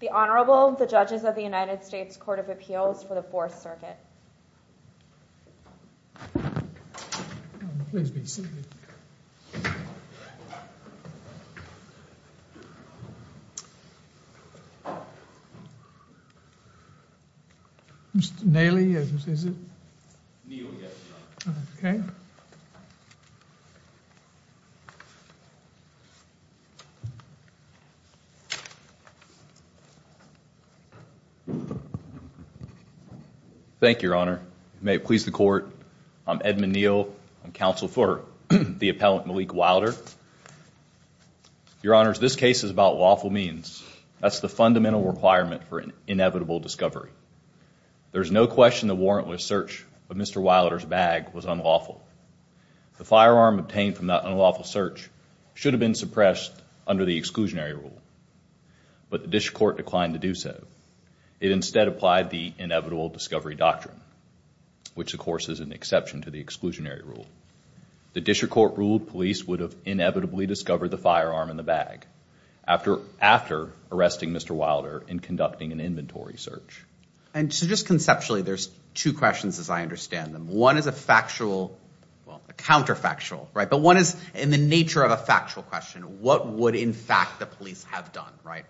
The Honorable, the Judges of the United States Court of Appeals for the Fourth Circuit. Edmund Neal Thank you, Your Honor. May it please the Court, I'm Edmund Neal, counsel for the appellant Malik Wilder. Your Honors, this case is about lawful means. That's the fundamental requirement for inevitable discovery. There's no question the warrant was searched, but Mr. Wilder's bag was unlawful. The firearm obtained from that unlawful search should have been suppressed under the exclusionary rule, but the district court declined to do so. It instead applied the inevitable discovery doctrine, which, of course, is an exception to the exclusionary rule. The district court ruled police would have inevitably discovered the firearm in the bag after arresting Mr. Wilder in conducting an inventory search. And so just conceptually, there's two questions, as I understand them. One is a factual, well, a counterfactual, right, but one is in the nature of a factual question. What would, in fact, the police have done, right?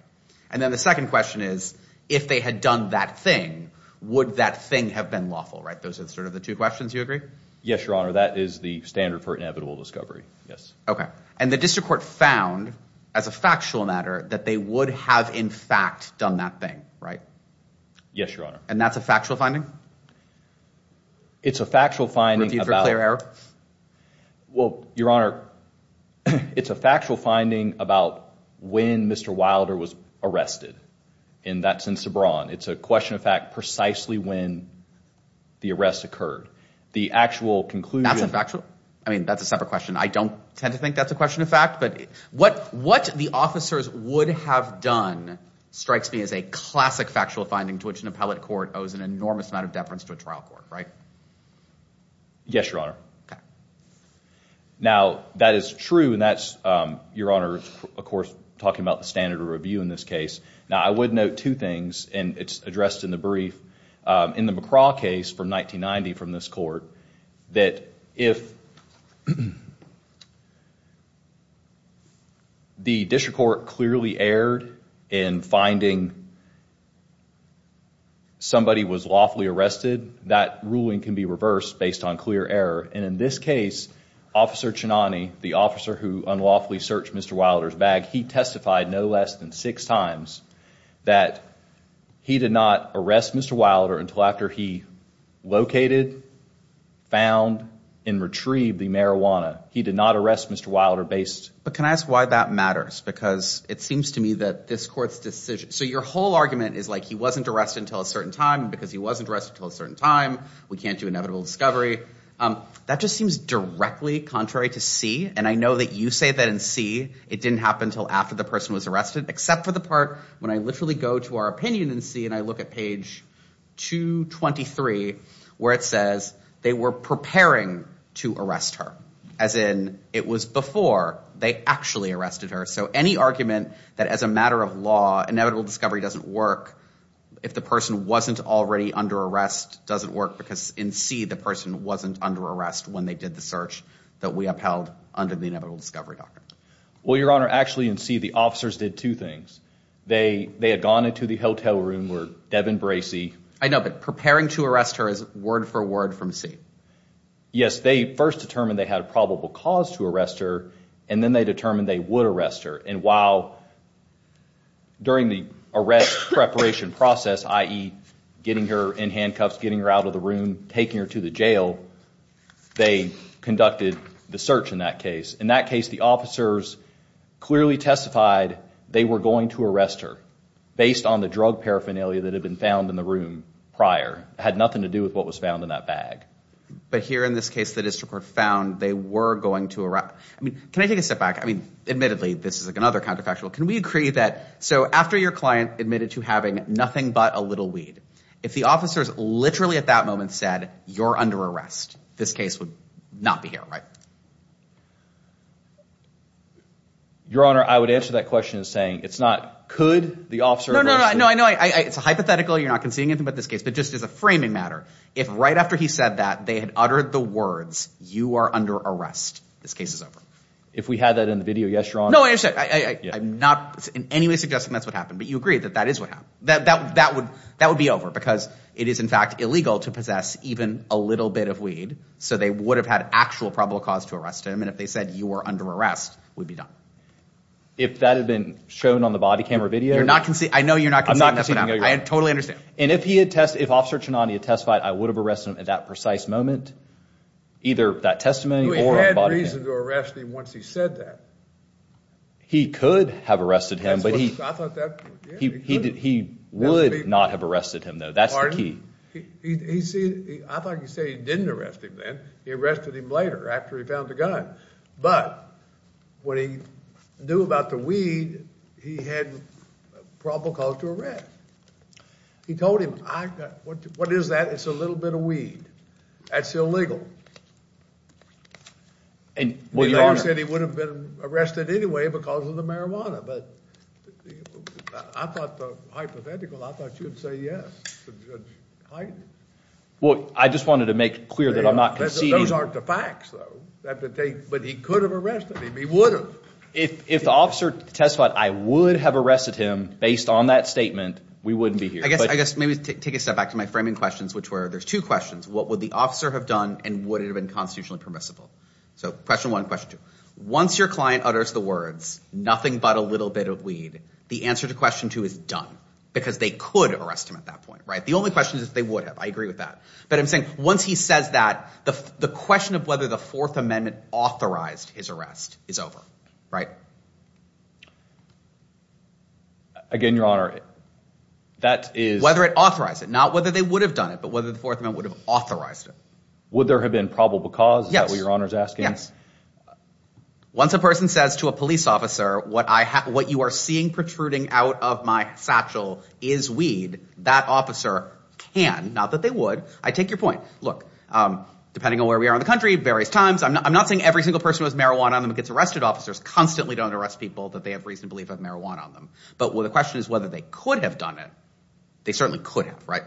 And then the second question is, if they had done that thing, would that thing have been lawful, right? Those are sort of the two questions. Do you agree? Yes, Your Honor. That is the standard for inevitable discovery. Yes. Okay. And the district court found, as a factual matter, that they would have, in fact, done that thing, right? Yes, Your Honor. And that's a factual finding? It's a factual finding. Review for clear error? Well, Your Honor, it's a factual finding about when Mr. Wilder was arrested. And that's in Sebron. It's a question of fact precisely when the arrest occurred. The actual conclusion- That's a factual- I mean, that's a separate question. I don't tend to think that's a question of fact, but what the officers would have done strikes me as a classic factual finding to which an appellate court owes an enormous amount of deference to a trial court, right? Yes, Your Honor. Now, that is true, and that's, Your Honor, of course, talking about the standard of review in this case. Now, I would note two things, and it's addressed in the brief. In the McCraw case from 1990 from this court, that if the district court clearly erred in finding somebody was lawfully arrested, that ruling can be reversed based on clear error. And in this case, Officer Chinani, the officer who unlawfully searched Mr. Wilder's bag, he testified no less than six times that he did not arrest Mr. Wilder until after he located, found, and retrieved the marijuana. He did not arrest Mr. Wilder based- But can I ask why that matters? Because it seems to me that this court's decision- So your whole argument is like, he wasn't arrested until a certain time because he wasn't arrested until a certain time. We can't do inevitable discovery. That just seems directly contrary to C. And I know that you say that in C, it didn't happen until after the person was arrested, except for the part when I literally go to our opinion in C, and I look at page 223, where it says, they were preparing to arrest her, as in, it was before they actually arrested her. So any argument that as a matter of law, inevitable discovery doesn't work, if the person wasn't already under arrest, doesn't work because in C, the person wasn't under arrest when they did the search that we upheld under the inevitable discovery doctrine. Well, Your Honor, actually in C, the officers did two things. They had gone into the hotel room where Devin Bracey- I know, but preparing to arrest her is word for word from C. Yes, they first determined they had a probable cause to arrest her, and then they determined they would arrest her. And while during the arrest preparation process, i.e., getting her in handcuffs, getting her out of the room, taking her to the jail, they conducted the search in that case. In that case, the officers clearly testified they were going to arrest her based on the drug paraphernalia that had been found in the room prior. It had nothing to do with what was found in that bag. But here in this case, the district court found they were going to arrest- I mean, can I take a step back? I mean, admittedly, this is another counterfactual. Can we agree that, so after your client admitted to having nothing but a little weed, if the officers literally at that moment said, you're under arrest, this case would not be here, right? Your Honor, I would answer that question saying it's not could the officer- No, no, no, I know, it's a hypothetical, you're not conceding anything about this case, but just as a framing matter. If right after he said that, they had uttered the words, you are under arrest, this case is over. If we had that in the video, yes, Your Honor. No, I understand, I'm not in any way suggesting that's what happened, but you agree that that is what happened. That would be over because it is, in fact, illegal to possess even a little bit of weed, so they would have had actual probable cause to arrest him, and if they said, you are under arrest, would be done. If that had been shown on the body camera video- You're not conceding, I know you're not conceding, that's what happened. I totally understand. If Officer Ciannone had testified, I would have arrested him at that precise moment, either that testimony or on the body camera. He had reason to arrest him once he said that. He could have arrested him, but he would not have arrested him, though, that's the key. I thought you said he didn't arrest him then, he arrested him later after he found the gun, but what he knew about the weed, he had probable cause to arrest. He told him, what is that, it's a little bit of weed, that's illegal. And your Honor- He said he would have been arrested anyway because of the marijuana, but I thought, hypothetically, I thought you would say yes to Judge Hite. Well, I just wanted to make clear that I'm not conceding- Those aren't the facts, though, but he could have arrested him, he would have. If the officer testified, I would have arrested him based on that statement, we wouldn't be here. I guess maybe take a step back to my framing questions, which were, there's two questions, what would the officer have done, and would it have been constitutionally permissible? So question one, question two, once your client utters the words, nothing but a little bit of weed, the answer to question two is done, because they could arrest him at that point, right? The only question is if they would have, I agree with that. But I'm saying, once he says that, the question of whether the Fourth Amendment authorized his arrest is over, right? Again, Your Honor, that is- Whether it authorized it, not whether they would have done it, but whether the Fourth Amendment would have authorized it. Would there have been probable cause? Yes. Is that what Your Honor's asking? Yes. Once a person says to a police officer, what you are seeing protruding out of my satchel is weed, that officer can, not that they would, I take your point. Look, depending on where we are in the country, various times, I'm not saying every single person who has marijuana on them gets arrested, officers constantly do that. They don't arrest people that they have reason to believe have marijuana on them. But the question is whether they could have done it. They certainly could have, right?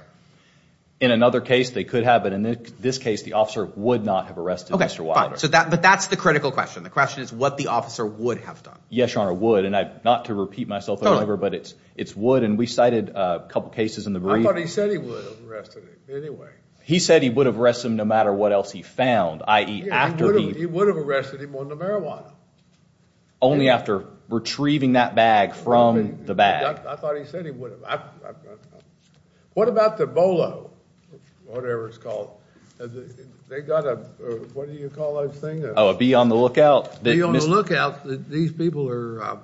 In another case, they could have. But in this case, the officer would not have arrested Mr. Wilder. Okay, fine. But that's the critical question. The question is what the officer would have done. Yes, Your Honor, would. And not to repeat myself or whatever, but it's would. And we cited a couple of cases in the brief. I thought he said he would have arrested him anyway. He said he would have arrested him no matter what else he found, i.e. after he- He would have arrested him on the marijuana. Only after retrieving that bag from the bag. I thought he said he would have. What about the BOLO, whatever it's called? They got a, what do you call those things? Oh, a be on the lookout? Be on the lookout. These people are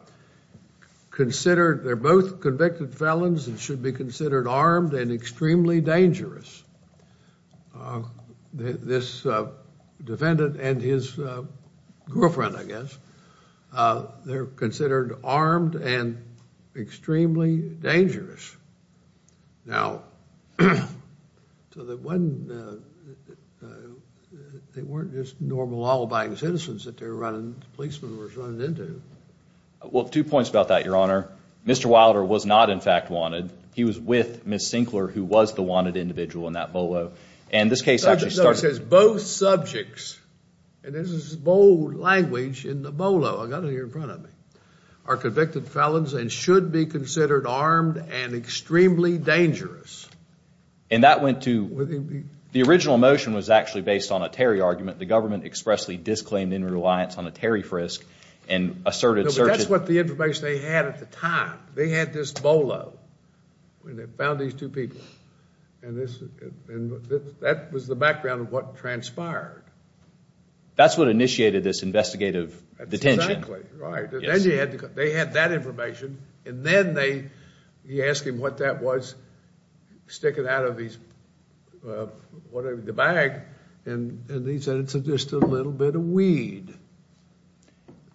considered, they're both convicted felons and should be considered armed and extremely dangerous. This defendant and his girlfriend, I guess, they're considered armed and extremely dangerous. Now, so that when, they weren't just normal alibiing citizens that they were running, policemen were running into. Well, two points about that, Your Honor. Mr. Wilder was not in fact wanted. He was with Ms. Sinclair, who was the wanted individual in this case. And this case actually starts- No, it says both subjects, and this is bold language in the BOLO, I got it here in front of me, are convicted felons and should be considered armed and extremely dangerous. And that went to, the original motion was actually based on a Terry argument. The government expressly disclaimed any reliance on a Terry frisk and asserted- That's what the information they had at the time. They had this BOLO when they found these two people. And this, and that was the background of what transpired. That's what initiated this investigative detention. Exactly, right. And then you had to, they had that information. And then they, you ask him what that was, stick it out of his, whatever, the bag. And he said, it's just a little bit of weed.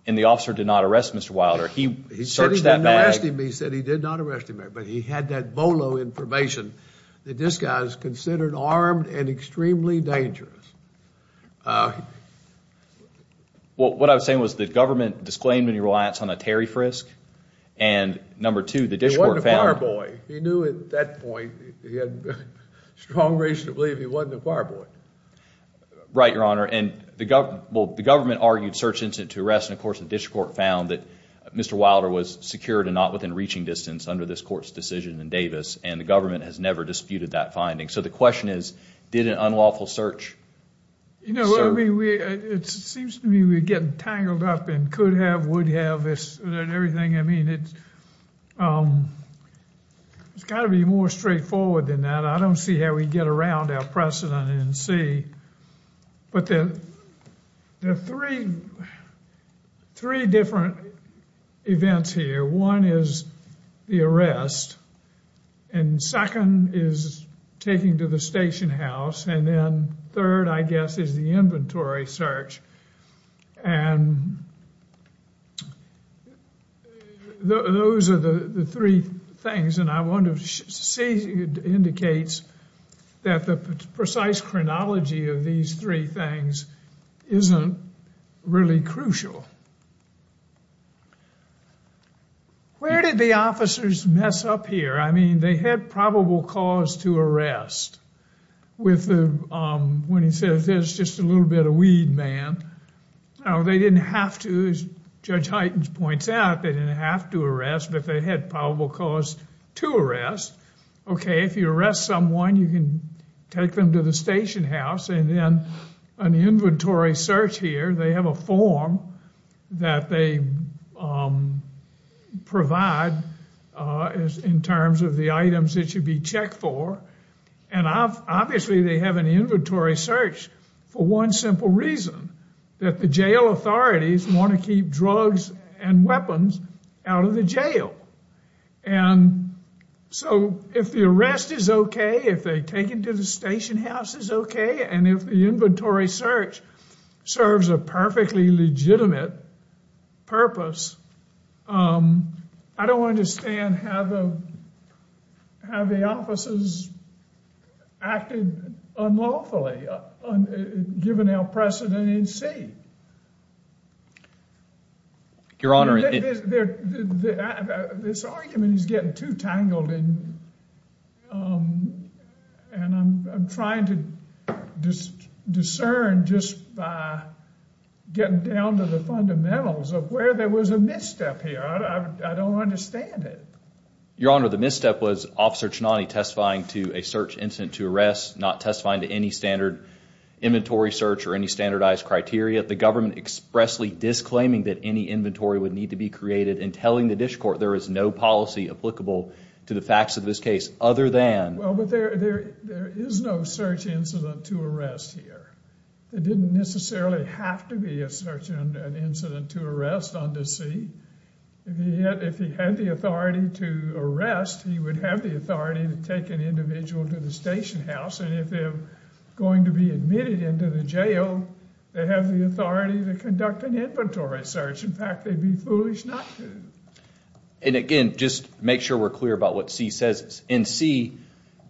And the officer did not arrest Mr. Wilder. He searched that bag. When you asked him, he said he did not arrest him. But he had that BOLO information that this guy is considered armed and extremely dangerous. Well, what I was saying was the government disclaimed any reliance on a Terry frisk. And number two, the district court found- He knew at that point, he had strong reason to believe he wasn't a bar boy. Right, Your Honor. And the government, well, the government argued search incident to arrest. And of course, the district court found that Mr. Wilder was secured and not within reaching distance under this court's decision in Davis. And the government has never disputed that finding. So the question is, did an unlawful search serve? You know, it seems to me we're getting tangled up in could have, would have, and everything. I mean, it's got to be more straightforward than that. I don't see how we get around our precedent in C. But there are three different events here. One is the arrest. And second is taking to the station house. And then third, I guess, is the inventory search. And those are the three things. And I want to say it indicates that the precise chronology of these three things isn't really crucial. Where did the officers mess up here? I mean, they had probable cause to arrest with the, when he says there's just a little bit of weed, man. Now, they didn't have to, as Judge Heitens points out, they didn't have to arrest, but they had probable cause to arrest. Okay, if you arrest someone, you can take them to the station house. And then an inventory search here, they have a form that they provide in terms of the items that should be checked for. And obviously, they have an inventory search for one simple reason, that the jail authorities want to keep drugs and weapons out of the jail. And so if the arrest is okay, if they take it to the station house is okay, and if the inventory search serves a perfectly legitimate purpose, I don't understand how the, how the officers acted unlawfully, given our precedent in C. Your Honor, this argument is getting too tangled in, and I'm trying to discern just by getting down to the fundamentals of where there was a misstep here. I don't understand it. Your Honor, the misstep was Officer Ciannone testifying to a search incident to arrest, not testifying to any standard inventory search or any standardized criteria. The government expressly disclaiming that any inventory would need to be created and telling the Dish Court there is no policy applicable to the facts of this case, other than... Well, but there is no search incident to arrest here. It didn't necessarily have to be a search incident to arrest under C. If he had the authority to arrest, he would have the authority to take an individual to the station house. If they're going to be admitted into the jail, they have the authority to conduct an inventory search. In fact, they'd be foolish not to. And again, just make sure we're clear about what C says. In C,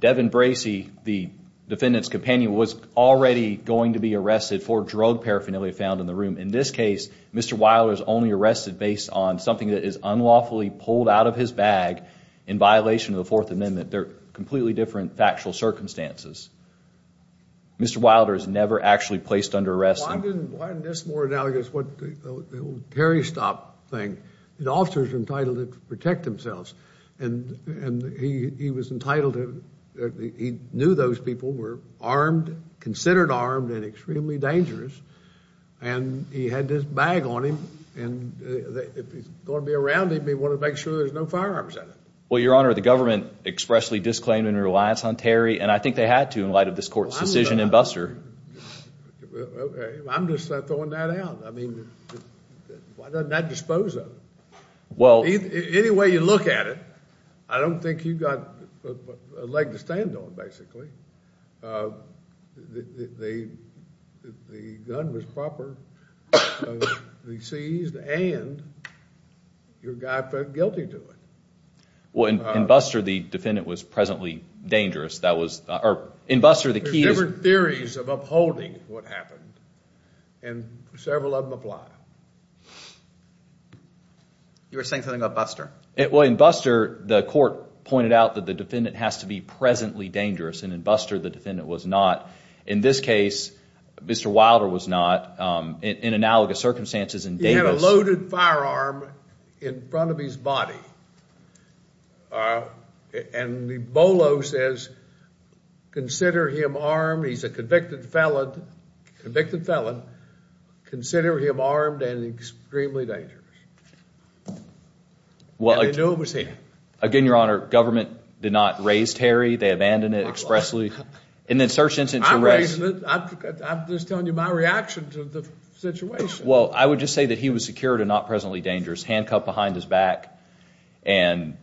Devin Bracey, the defendant's companion, was already going to be arrested for drug paraphernalia found in the room. In this case, Mr. Weiler is only arrested based on something that is unlawfully pulled out of his bag in violation of the Fourth Amendment. They're completely different factual circumstances. Mr. Weiler is never actually placed under arrest. Well, why isn't this more analogous to the old parry stop thing? The officer's entitled to protect themselves. And he was entitled to... He knew those people were armed, considered armed, and extremely dangerous. And he had this bag on him. And if he's going to be around, he may want to make sure there's no firearms in it. Well, Your Honor, the government expressly disclaimed any reliance on Terry. And I think they had to in light of this court's decision in Buster. I'm just throwing that out. I mean, why doesn't that dispose of him? Any way you look at it, I don't think you've got a leg to stand on, basically. The gun was proper. He seized and your guy felt guilty to it. Well, in Buster, the defendant was presently dangerous. There's different theories of upholding what happened. And several of them apply. You were saying something about Buster? Well, in Buster, the court pointed out that the defendant has to be presently dangerous. And in Buster, the defendant was not. In this case, Mr. Wilder was not. In analogous circumstances, in Davis... ...in front of his body. And the BOLO says, consider him armed. He's a convicted felon. Convicted felon. Consider him armed and extremely dangerous. And they knew it was him. Again, Your Honor, government did not raise Terry. They abandoned it expressly. And then search instances... I raised him. I'm just telling you my reaction to the situation. Well, I would just say that he was secured and not presently dangerous. Handcuffed behind his back. And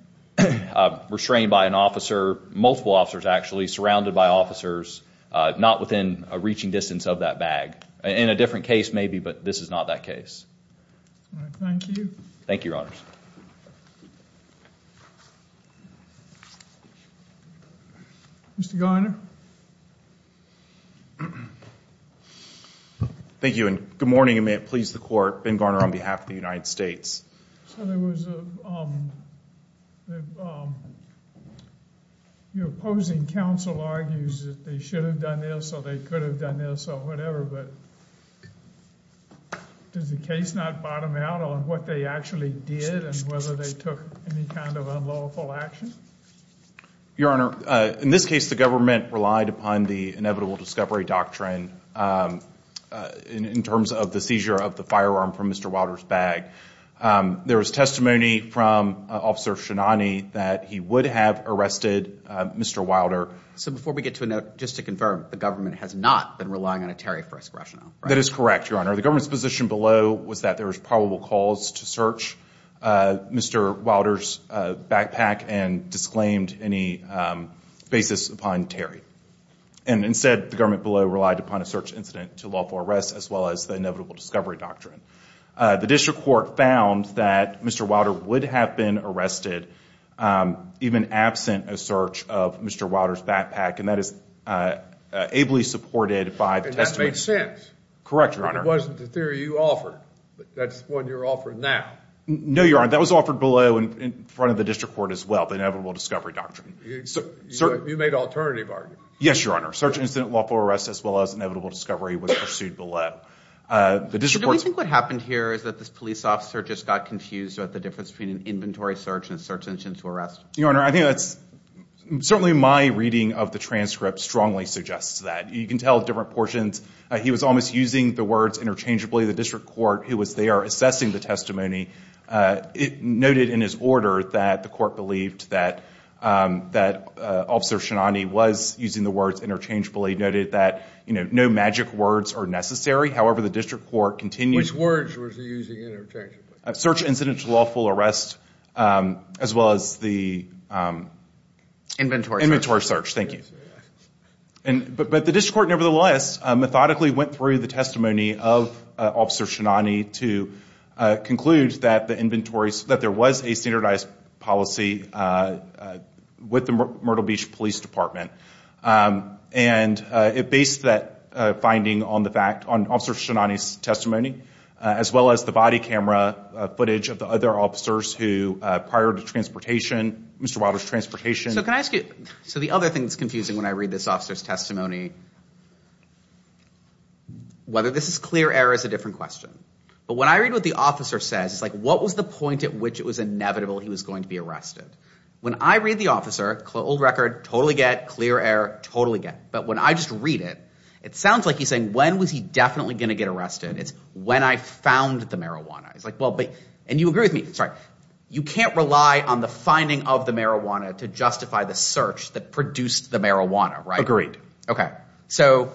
restrained by an officer. Multiple officers, actually. Surrounded by officers. Not within a reaching distance of that bag. In a different case, maybe. But this is not that case. All right. Thank you. Thank you, Your Honors. Mr. Garner. Thank you. Good morning, and may it please the Court. Ben Garner on behalf of the United States. So there was a... Your opposing counsel argues that they should have done this, or they could have done this, or whatever. But does the case not bottom out on what they actually did and whether they took any kind of unlawful action? Your Honor, in this case, the government relied upon the inevitable discovery doctrine. In terms of the seizure of the firearm from Mr. Wilder's bag. There was testimony from Officer Shinani that he would have arrested Mr. Wilder. So before we get to a note, just to confirm, the government has not been relying on a Terry Frisk rationale, right? That is correct, Your Honor. The government's position below was that there was probable cause to search Mr. Wilder's backpack and disclaimed any basis upon Terry. And instead, the government below relied upon a search incident to lawful arrest, as well as the inevitable discovery doctrine. The district court found that Mr. Wilder would have been arrested even absent a search of Mr. Wilder's backpack, and that is ably supported by the testimony... And that made sense. Correct, Your Honor. It wasn't the theory you offered, but that's the one you're offering now. No, Your Honor, that was offered below in front of the district court as well, the inevitable discovery doctrine. So you made an alternative argument. Yes, Your Honor. Search incident lawful arrest, as well as inevitable discovery, was pursued below. Do we think what happened here is that this police officer just got confused about the difference between an inventory search and a search incident to arrest? Your Honor, I think that's... Certainly, my reading of the transcript strongly suggests that. You can tell different portions. He was almost using the words interchangeably. The district court, who was there assessing the testimony, it noted in his order that the court believed that Officer Shinani was using the words interchangeably, noted that no magic words are necessary. However, the district court continued... Which words was he using interchangeably? Search incident lawful arrest, as well as the... Inventory search. Inventory search, thank you. But the district court, nevertheless, methodically went through the testimony of Officer Shinani to conclude that there was a standardized policy with the Myrtle Beach Police Department. And it based that finding on Officer Shinani's testimony, as well as the body camera footage of the other officers who, prior to transportation, Mr. Wilder's transportation... So can I ask you... So the other thing that's confusing when I read this officer's testimony, whether this is clear error is a different question. But when I read what the officer says, it's like, what was the point at which it was inevitable he was going to be arrested? When I read the officer, old record, totally get, clear error, totally get. But when I just read it, it sounds like he's saying, when was he definitely going to get arrested? It's when I found the marijuana. It's like, well, but... And you agree with me, sorry. You can't rely on the finding of the marijuana to justify the search that produced the marijuana, right? Okay. So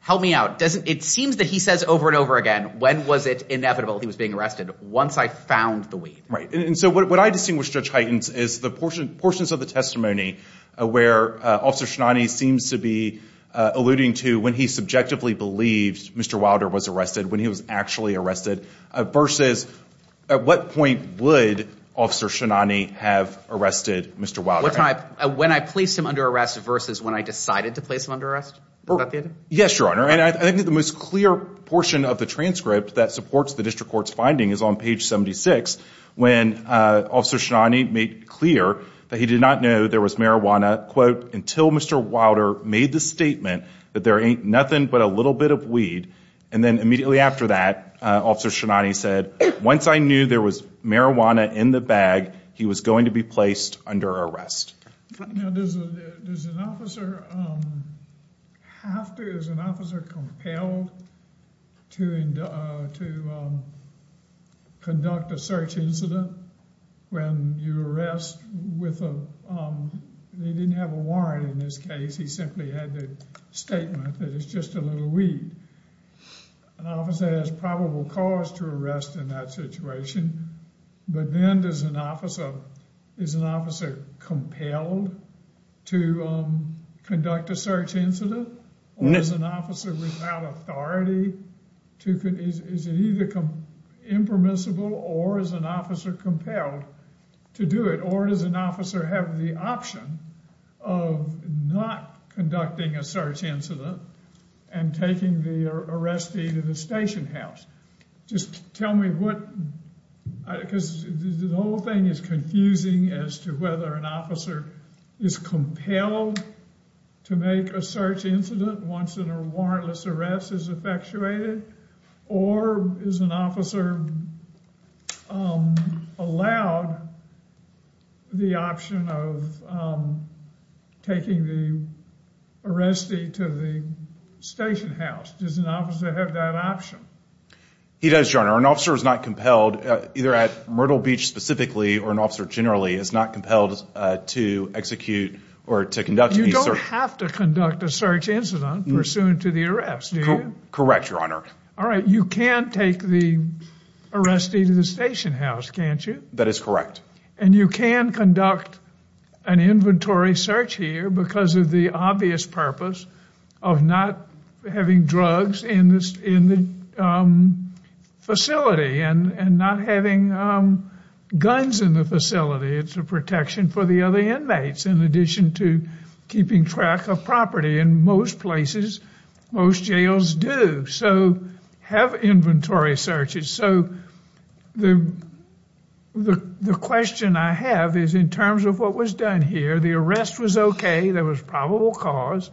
help me out. It seems that he says over and over again, when was it inevitable he was being arrested? Once I found the weed. And so what I distinguish, Judge Heitens, is the portions of the testimony where Officer Shinani seems to be alluding to when he subjectively believed Mr. Wilder was arrested, when he was actually arrested, versus at what point would Officer Shinani have arrested Mr. Wilder? When I placed him under arrest versus when I decided to place him under arrest? Yes, Your Honor. And I think the most clear portion of the transcript that supports the district court's finding is on page 76, when Officer Shinani made clear that he did not know there was marijuana, quote, until Mr. Wilder made the statement that there ain't nothing but a little bit of weed. And then immediately after that, Officer Shinani said, once I knew there was marijuana in the bag, he was going to be placed under arrest. Now, does an officer have to, is an officer compelled to conduct a search incident when you arrest with a, they didn't have a warrant in this case. He simply had the statement that it's just a little weed. An officer has probable cause to arrest in that situation. But then does an officer, is an officer compelled to conduct a search incident? Or is an officer without authority to, is it either impermissible or is an officer compelled to do it? Or does an officer have the option of not conducting a search incident and taking the arrestee to the station house? Just tell me what, because the whole thing is confusing as to whether an officer is compelled to make a search incident once a warrantless arrest is effectuated. Or is an officer allowed the option of taking the arrestee to the station house? Does an officer have that option? He does, Your Honor. An officer is not compelled, either at Myrtle Beach specifically, or an officer generally is not compelled to execute or to conduct any search. You don't have to conduct a search incident pursuant to the arrest, do you? Correct, Your Honor. All right. You can take the arrestee to the station house, can't you? That is correct. And you can conduct an inventory search here because of the obvious purpose of not having drugs in the facility and not having guns in the facility. It's a protection for the other inmates, in addition to keeping track of property. In most places, most jails do have inventory searches. So the question I have is, in terms of what was done here, the arrest was okay. There was probable cause.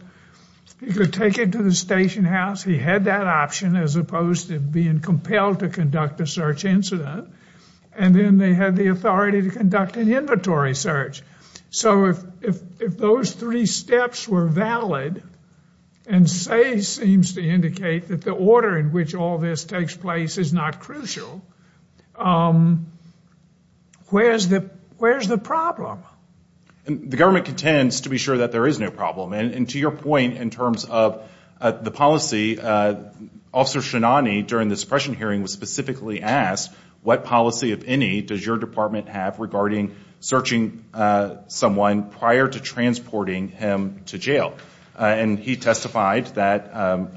He could take it to the station house. He had that option as opposed to being compelled to conduct a search incident. And then they had the authority to conduct an inventory search. So if those three steps were valid, and say seems to indicate that the order in which all this takes place is not crucial, where's the problem? And the government contends to be sure that there is no problem. And to your point in terms of the policy, Officer Shinani, during the suppression hearing, was specifically asked what policy, if any, does your department have regarding searching someone prior to transporting him to jail? And he testified that,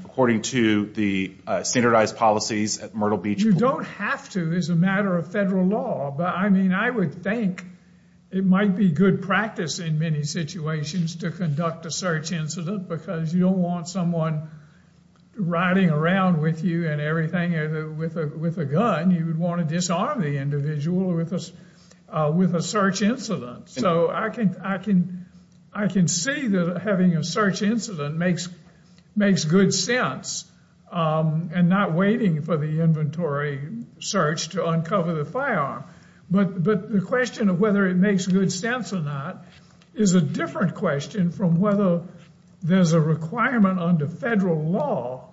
according to the standardized policies at Myrtle Beach... You don't have to as a matter of federal law. But I mean, I would think it might be good practice in many situations to conduct a search incident because you don't want someone riding around with you and everything with a gun. You would want to disarm the individual with a search incident. So I can see that having a search incident makes good sense. And not waiting for the inventory search to uncover the firearm. But the question of whether it makes good sense or not is a different question from whether there's a requirement under federal law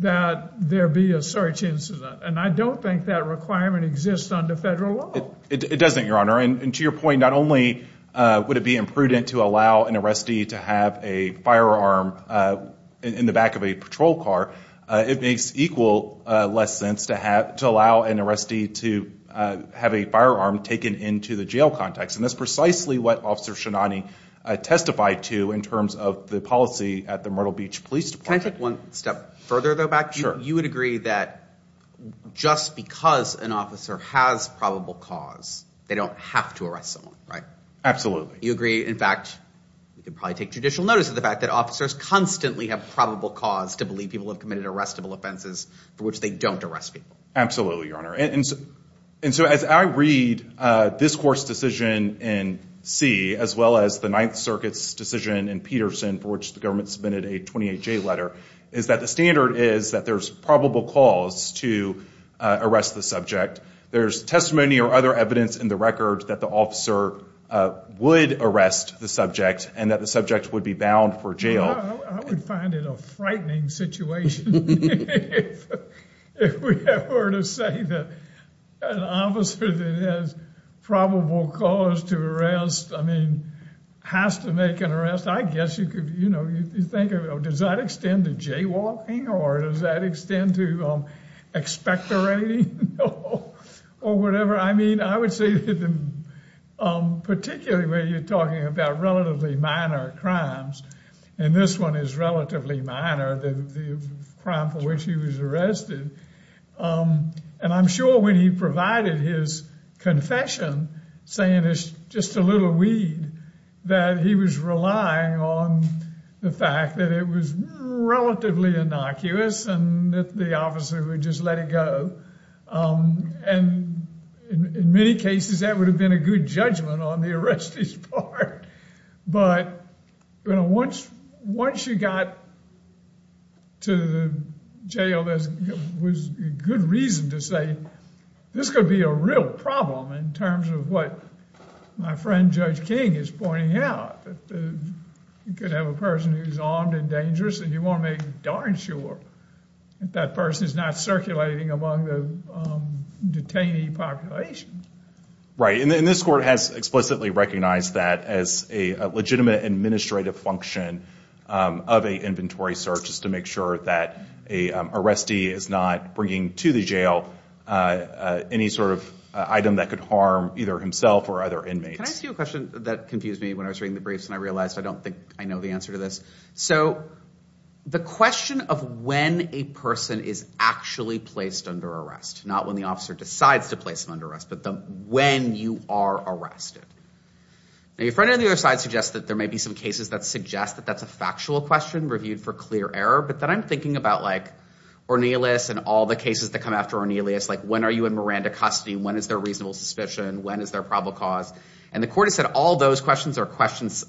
that there be a search incident. And I don't think that requirement exists under federal law. It doesn't, Your Honor. And to your point, not only would it be imprudent to allow an arrestee to have a firearm in the back of a patrol car, it makes equal less sense to allow an arrestee to have a firearm taken into the jail context. And that's precisely what Officer Shinani testified to in terms of the policy at the Myrtle Beach Police Department. Can I take one step further, though, back? Sure. You would agree that just because an officer has probable cause, they don't have to arrest someone, right? Absolutely. You agree, in fact, we could probably take judicial notice of the fact that officers constantly have probable cause to believe people have committed arrestable offenses for which they don't arrest people. Absolutely, Your Honor. And so as I read this court's decision in C, as well as the Ninth Circuit's decision in Peterson, for which the government submitted a 28-J letter, is that the standard is that there's probable cause to arrest the subject. There's testimony or other evidence in the record that the officer would arrest the subject and that the subject would be bound for jail. I would find it a frightening situation if we were to say that an officer that has probable cause to arrest, I mean, has to make an arrest. I guess you could, you know, you think, does that extend to jaywalking or does that extend to expectorating or whatever? I mean, I would say that particularly when you're talking about relatively minor crimes and this one is relatively minor, the crime for which he was arrested. And I'm sure when he provided his confession, saying it's just a little weed, that he was relying on the fact that it was relatively innocuous and that the officer would just let it go. And in many cases, that would have been a good judgment on the arrestee's part. But, you know, once you got to the jail, there was good reason to say this could be a real problem in terms of what my friend Judge King is pointing out. You could have a person who's armed and dangerous and you want to make darn sure that person is not circulating among the detainee population. Right. And this court has explicitly recognized that as a legitimate administrative function of a inventory search is to make sure that a arrestee is not bringing to the jail any sort of item that could harm either himself or other inmates. Can I ask you a question that confused me when I was reading the briefs and I realized I don't think I know the answer to this. So the question of when a person is actually placed under arrest, not when the officer decides to place them under arrest, when you are arrested. Now your friend on the other side suggests that there may be some cases that suggest that that's a factual question reviewed for clear error. But then I'm thinking about like Ornelas and all the cases that come after Ornelas. Like when are you in Miranda custody? When is there reasonable suspicion? When is there probable cause? And the court has said all those questions are questions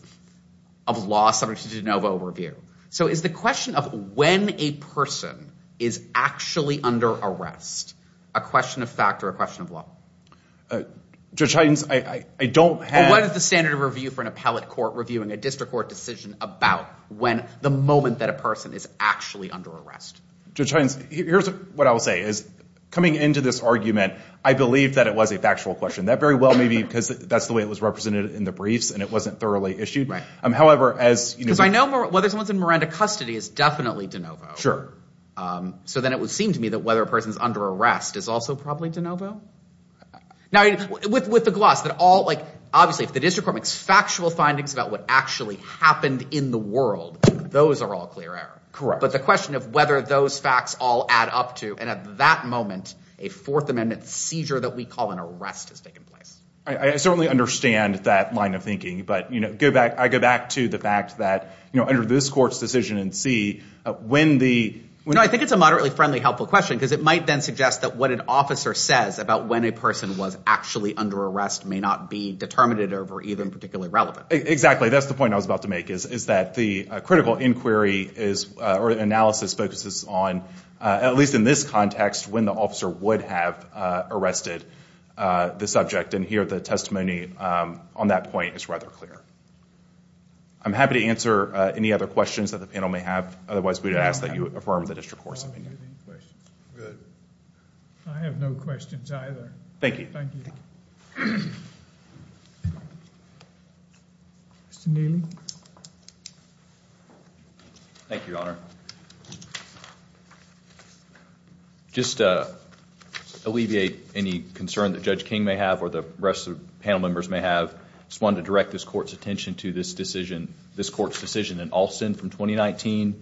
of law subject to de novo review. So is the question of when a person is actually under arrest a question of fact or a question of law? Judge Hines, I don't have... What is the standard of review for an appellate court reviewing a district court decision about when the moment that a person is actually under arrest? Judge Hines, here's what I will say is coming into this argument, I believe that it was a factual question. That very well may be because that's the way it was represented in the briefs and it wasn't thoroughly issued. However, as you know... Because I know whether someone's in Miranda custody is definitely de novo. Sure. So then it would seem to me that whether a person's under arrest is also probably de novo. Now, with the gloss that all like... Obviously, if the district court makes factual findings about what actually happened in the world, those are all clear error. Correct. But the question of whether those facts all add up to... And at that moment, a Fourth Amendment seizure that we call an arrest has taken place. I certainly understand that line of thinking. But, you know, I go back to the fact that, you know, under this court's decision in C, when the... No, I think it's a moderately friendly, helpful question because it might then suggest that what an officer says about when a person was actually under arrest may not be determinative or even particularly relevant. Exactly. That's the point I was about to make, is that the critical inquiry is... Or analysis focuses on, at least in this context, when the officer would have arrested the subject. And here, the testimony on that point is rather clear. I'm happy to answer any other questions that the panel may have. Otherwise, we'd ask that you affirm the district court's opinion. Any questions? Good. I have no questions either. Thank you. Mr. Neely. Thank you, Your Honor. Just to alleviate any concern that Judge King may have or the rest of the panel members may have, I just wanted to direct this court's attention to this decision, this court's decision in Alston from 2019.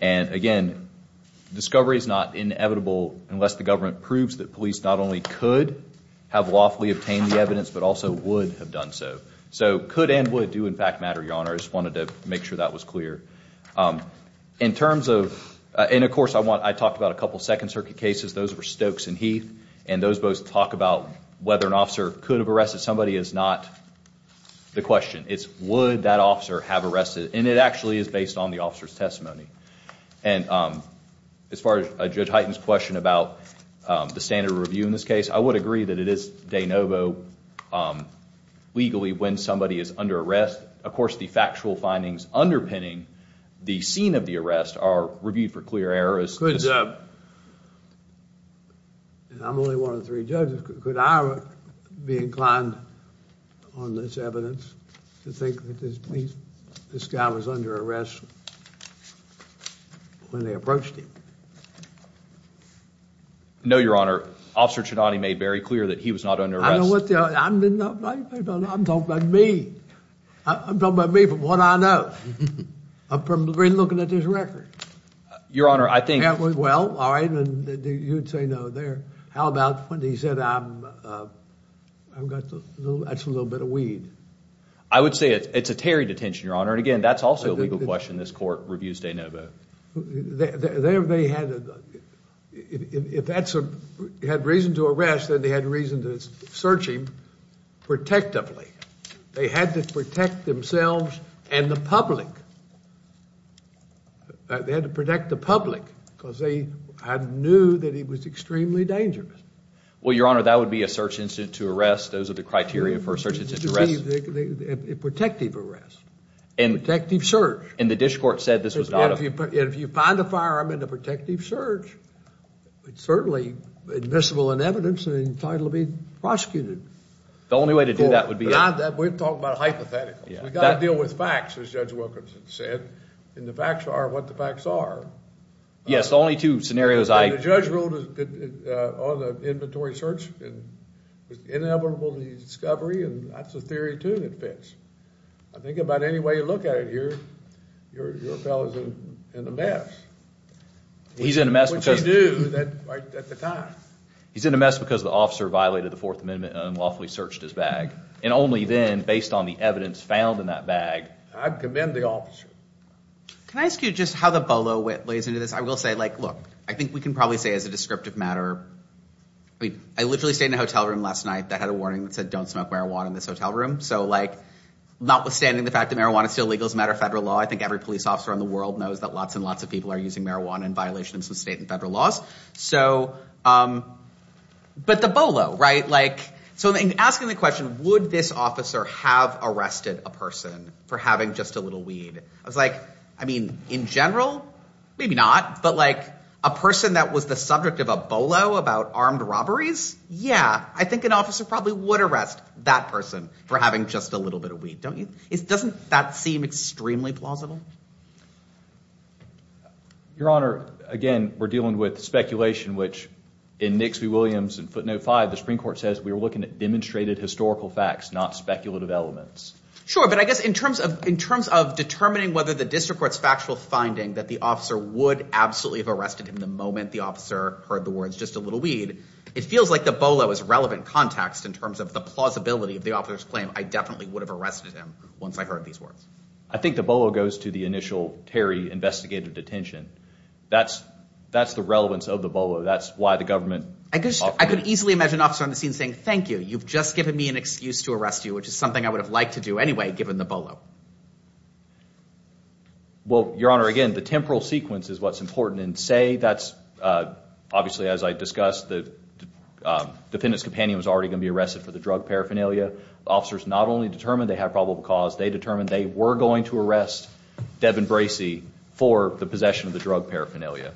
And again, discovery is not inevitable unless the government proves that police not only could have lawfully obtained the evidence, but also would have done so. So could and would do, in fact, matter, Your Honor. I just wanted to make sure that was clear. In terms of... And of course, I talked about a couple of Second Circuit cases. Those were Stokes and Heath. And those both talk about whether an officer could have arrested somebody is not the question. It's would that officer have arrested? And it actually is based on the officer's testimony. And as far as Judge Hyten's question about the standard of review in this case, I would agree that it is de novo legally when somebody is under arrest. Of course, the factual findings underpinning the scene of the arrest are reviewed for clear errors. And I'm only one of three judges. Could I be inclined on this evidence to think that this guy was under arrest when they approached him? No, Your Honor. Officer Ciannone made very clear that he was not under arrest. I know what the... I'm talking about me. I'm talking about me from what I know. I've been looking at this record. Your Honor, I think... That was well, all right. And you'd say no there. How about when he said, I've got... That's a little bit of weed. I would say it's a tarry detention, Your Honor. And again, that's also a legal question. This court reviews de novo. There they had... If that had reason to arrest, then they had reason to search him protectively. They had to protect themselves and the public. They had to protect the public because they knew that he was extremely dangerous. Well, Your Honor, that would be a search incident to arrest. Those are the criteria for a search incident to arrest. It would be a protective arrest, a protective search. And the Dish Court said this was not a... If you find a firearm in a protective search, it's certainly admissible in evidence and entitled to be prosecuted. The only way to do that would be... Beyond that, we're talking about hypotheticals. We've got to deal with facts, as Judge Wilkerson said. And the facts are what the facts are. Yes, the only two scenarios I... The judge ruled that all the inventory search was inevitable to discovery. And that's a theory, too, that fits. I think about any way you look at it here, your fellow's in a mess. He's in a mess because... Which he knew at the time. He's in a mess because the officer violated the Fourth Amendment and unlawfully searched his bag. And only then, based on the evidence found in that bag... I commend the officer. Can I ask you just how the BOLO lays into this? I will say, look, I think we can probably say as a descriptive matter... I mean, I literally stayed in a hotel room last night that had a warning that said, don't smoke marijuana in this hotel room. So notwithstanding the fact that marijuana is still legal as a matter of federal law, I think every police officer in the world knows that lots and lots of people are using marijuana in violation of some state and federal laws. But the BOLO, right? So in asking the question, would this officer have arrested a person for having just a little weed? I was like, I mean, in general, maybe not. But like a person that was the subject of a BOLO about armed robberies? Yeah. I think an officer probably would arrest that person for having just a little bit of weed, don't you? Doesn't that seem extremely plausible? Your Honor, again, we're dealing with speculation, which in Nixley-Williams in footnote five, the Supreme Court says we were looking at demonstrated historical facts, not speculative elements. Sure, but I guess in terms of determining whether the district court's factual finding that the officer would absolutely have arrested him the moment the officer heard the words, just a little weed, it feels like the BOLO is relevant context in terms of the plausibility of the officer's claim. I definitely would have arrested him once I heard these words. I think the BOLO goes to the initial Terry investigative detention. That's the relevance of the BOLO. That's why the government... I could easily imagine an officer on the scene saying, thank you, you've just given me an excuse to arrest you, which is something I would have liked to do anyway, given the BOLO. Well, Your Honor, again, the temporal sequence is what's important. And say that's, obviously, as I discussed, the defendant's companion was already going to be arrested for the drug paraphernalia. The officers not only determined they had probable cause, they determined they were going to arrest Devin Bracey for the possession of the drug paraphernalia.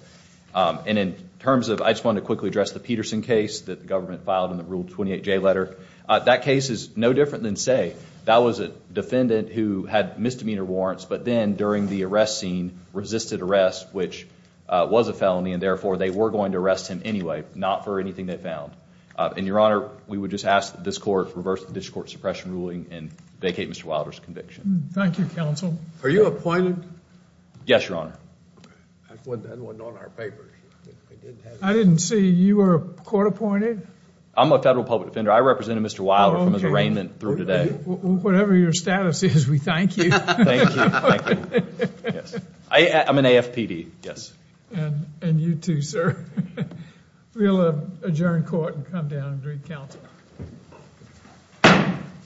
And in terms of... I just want to quickly address the Peterson case that the government filed in the Rule 28J letter. That case is no different than say, that was a defendant who had misdemeanor warrants, but then during the arrest scene, resisted arrest, which was a felony, and therefore, they were going to arrest him anyway, not for anything they found. And, Your Honor, we would just ask this court to reverse the district court suppression ruling and vacate Mr. Wilder's conviction. Thank you, counsel. Are you appointed? Yes, Your Honor. That wasn't on our papers. I didn't see you were court appointed. I'm a federal public defender. I represented Mr. Wilder from his arraignment through today. Whatever your status is, we thank you. Thank you, thank you. I'm an AFPD, yes. And you too, sir. We'll adjourn court and come down and greet counsel.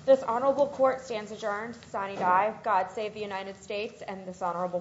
This honorable court stands adjourned. Signee die. God save the United States and this honorable court.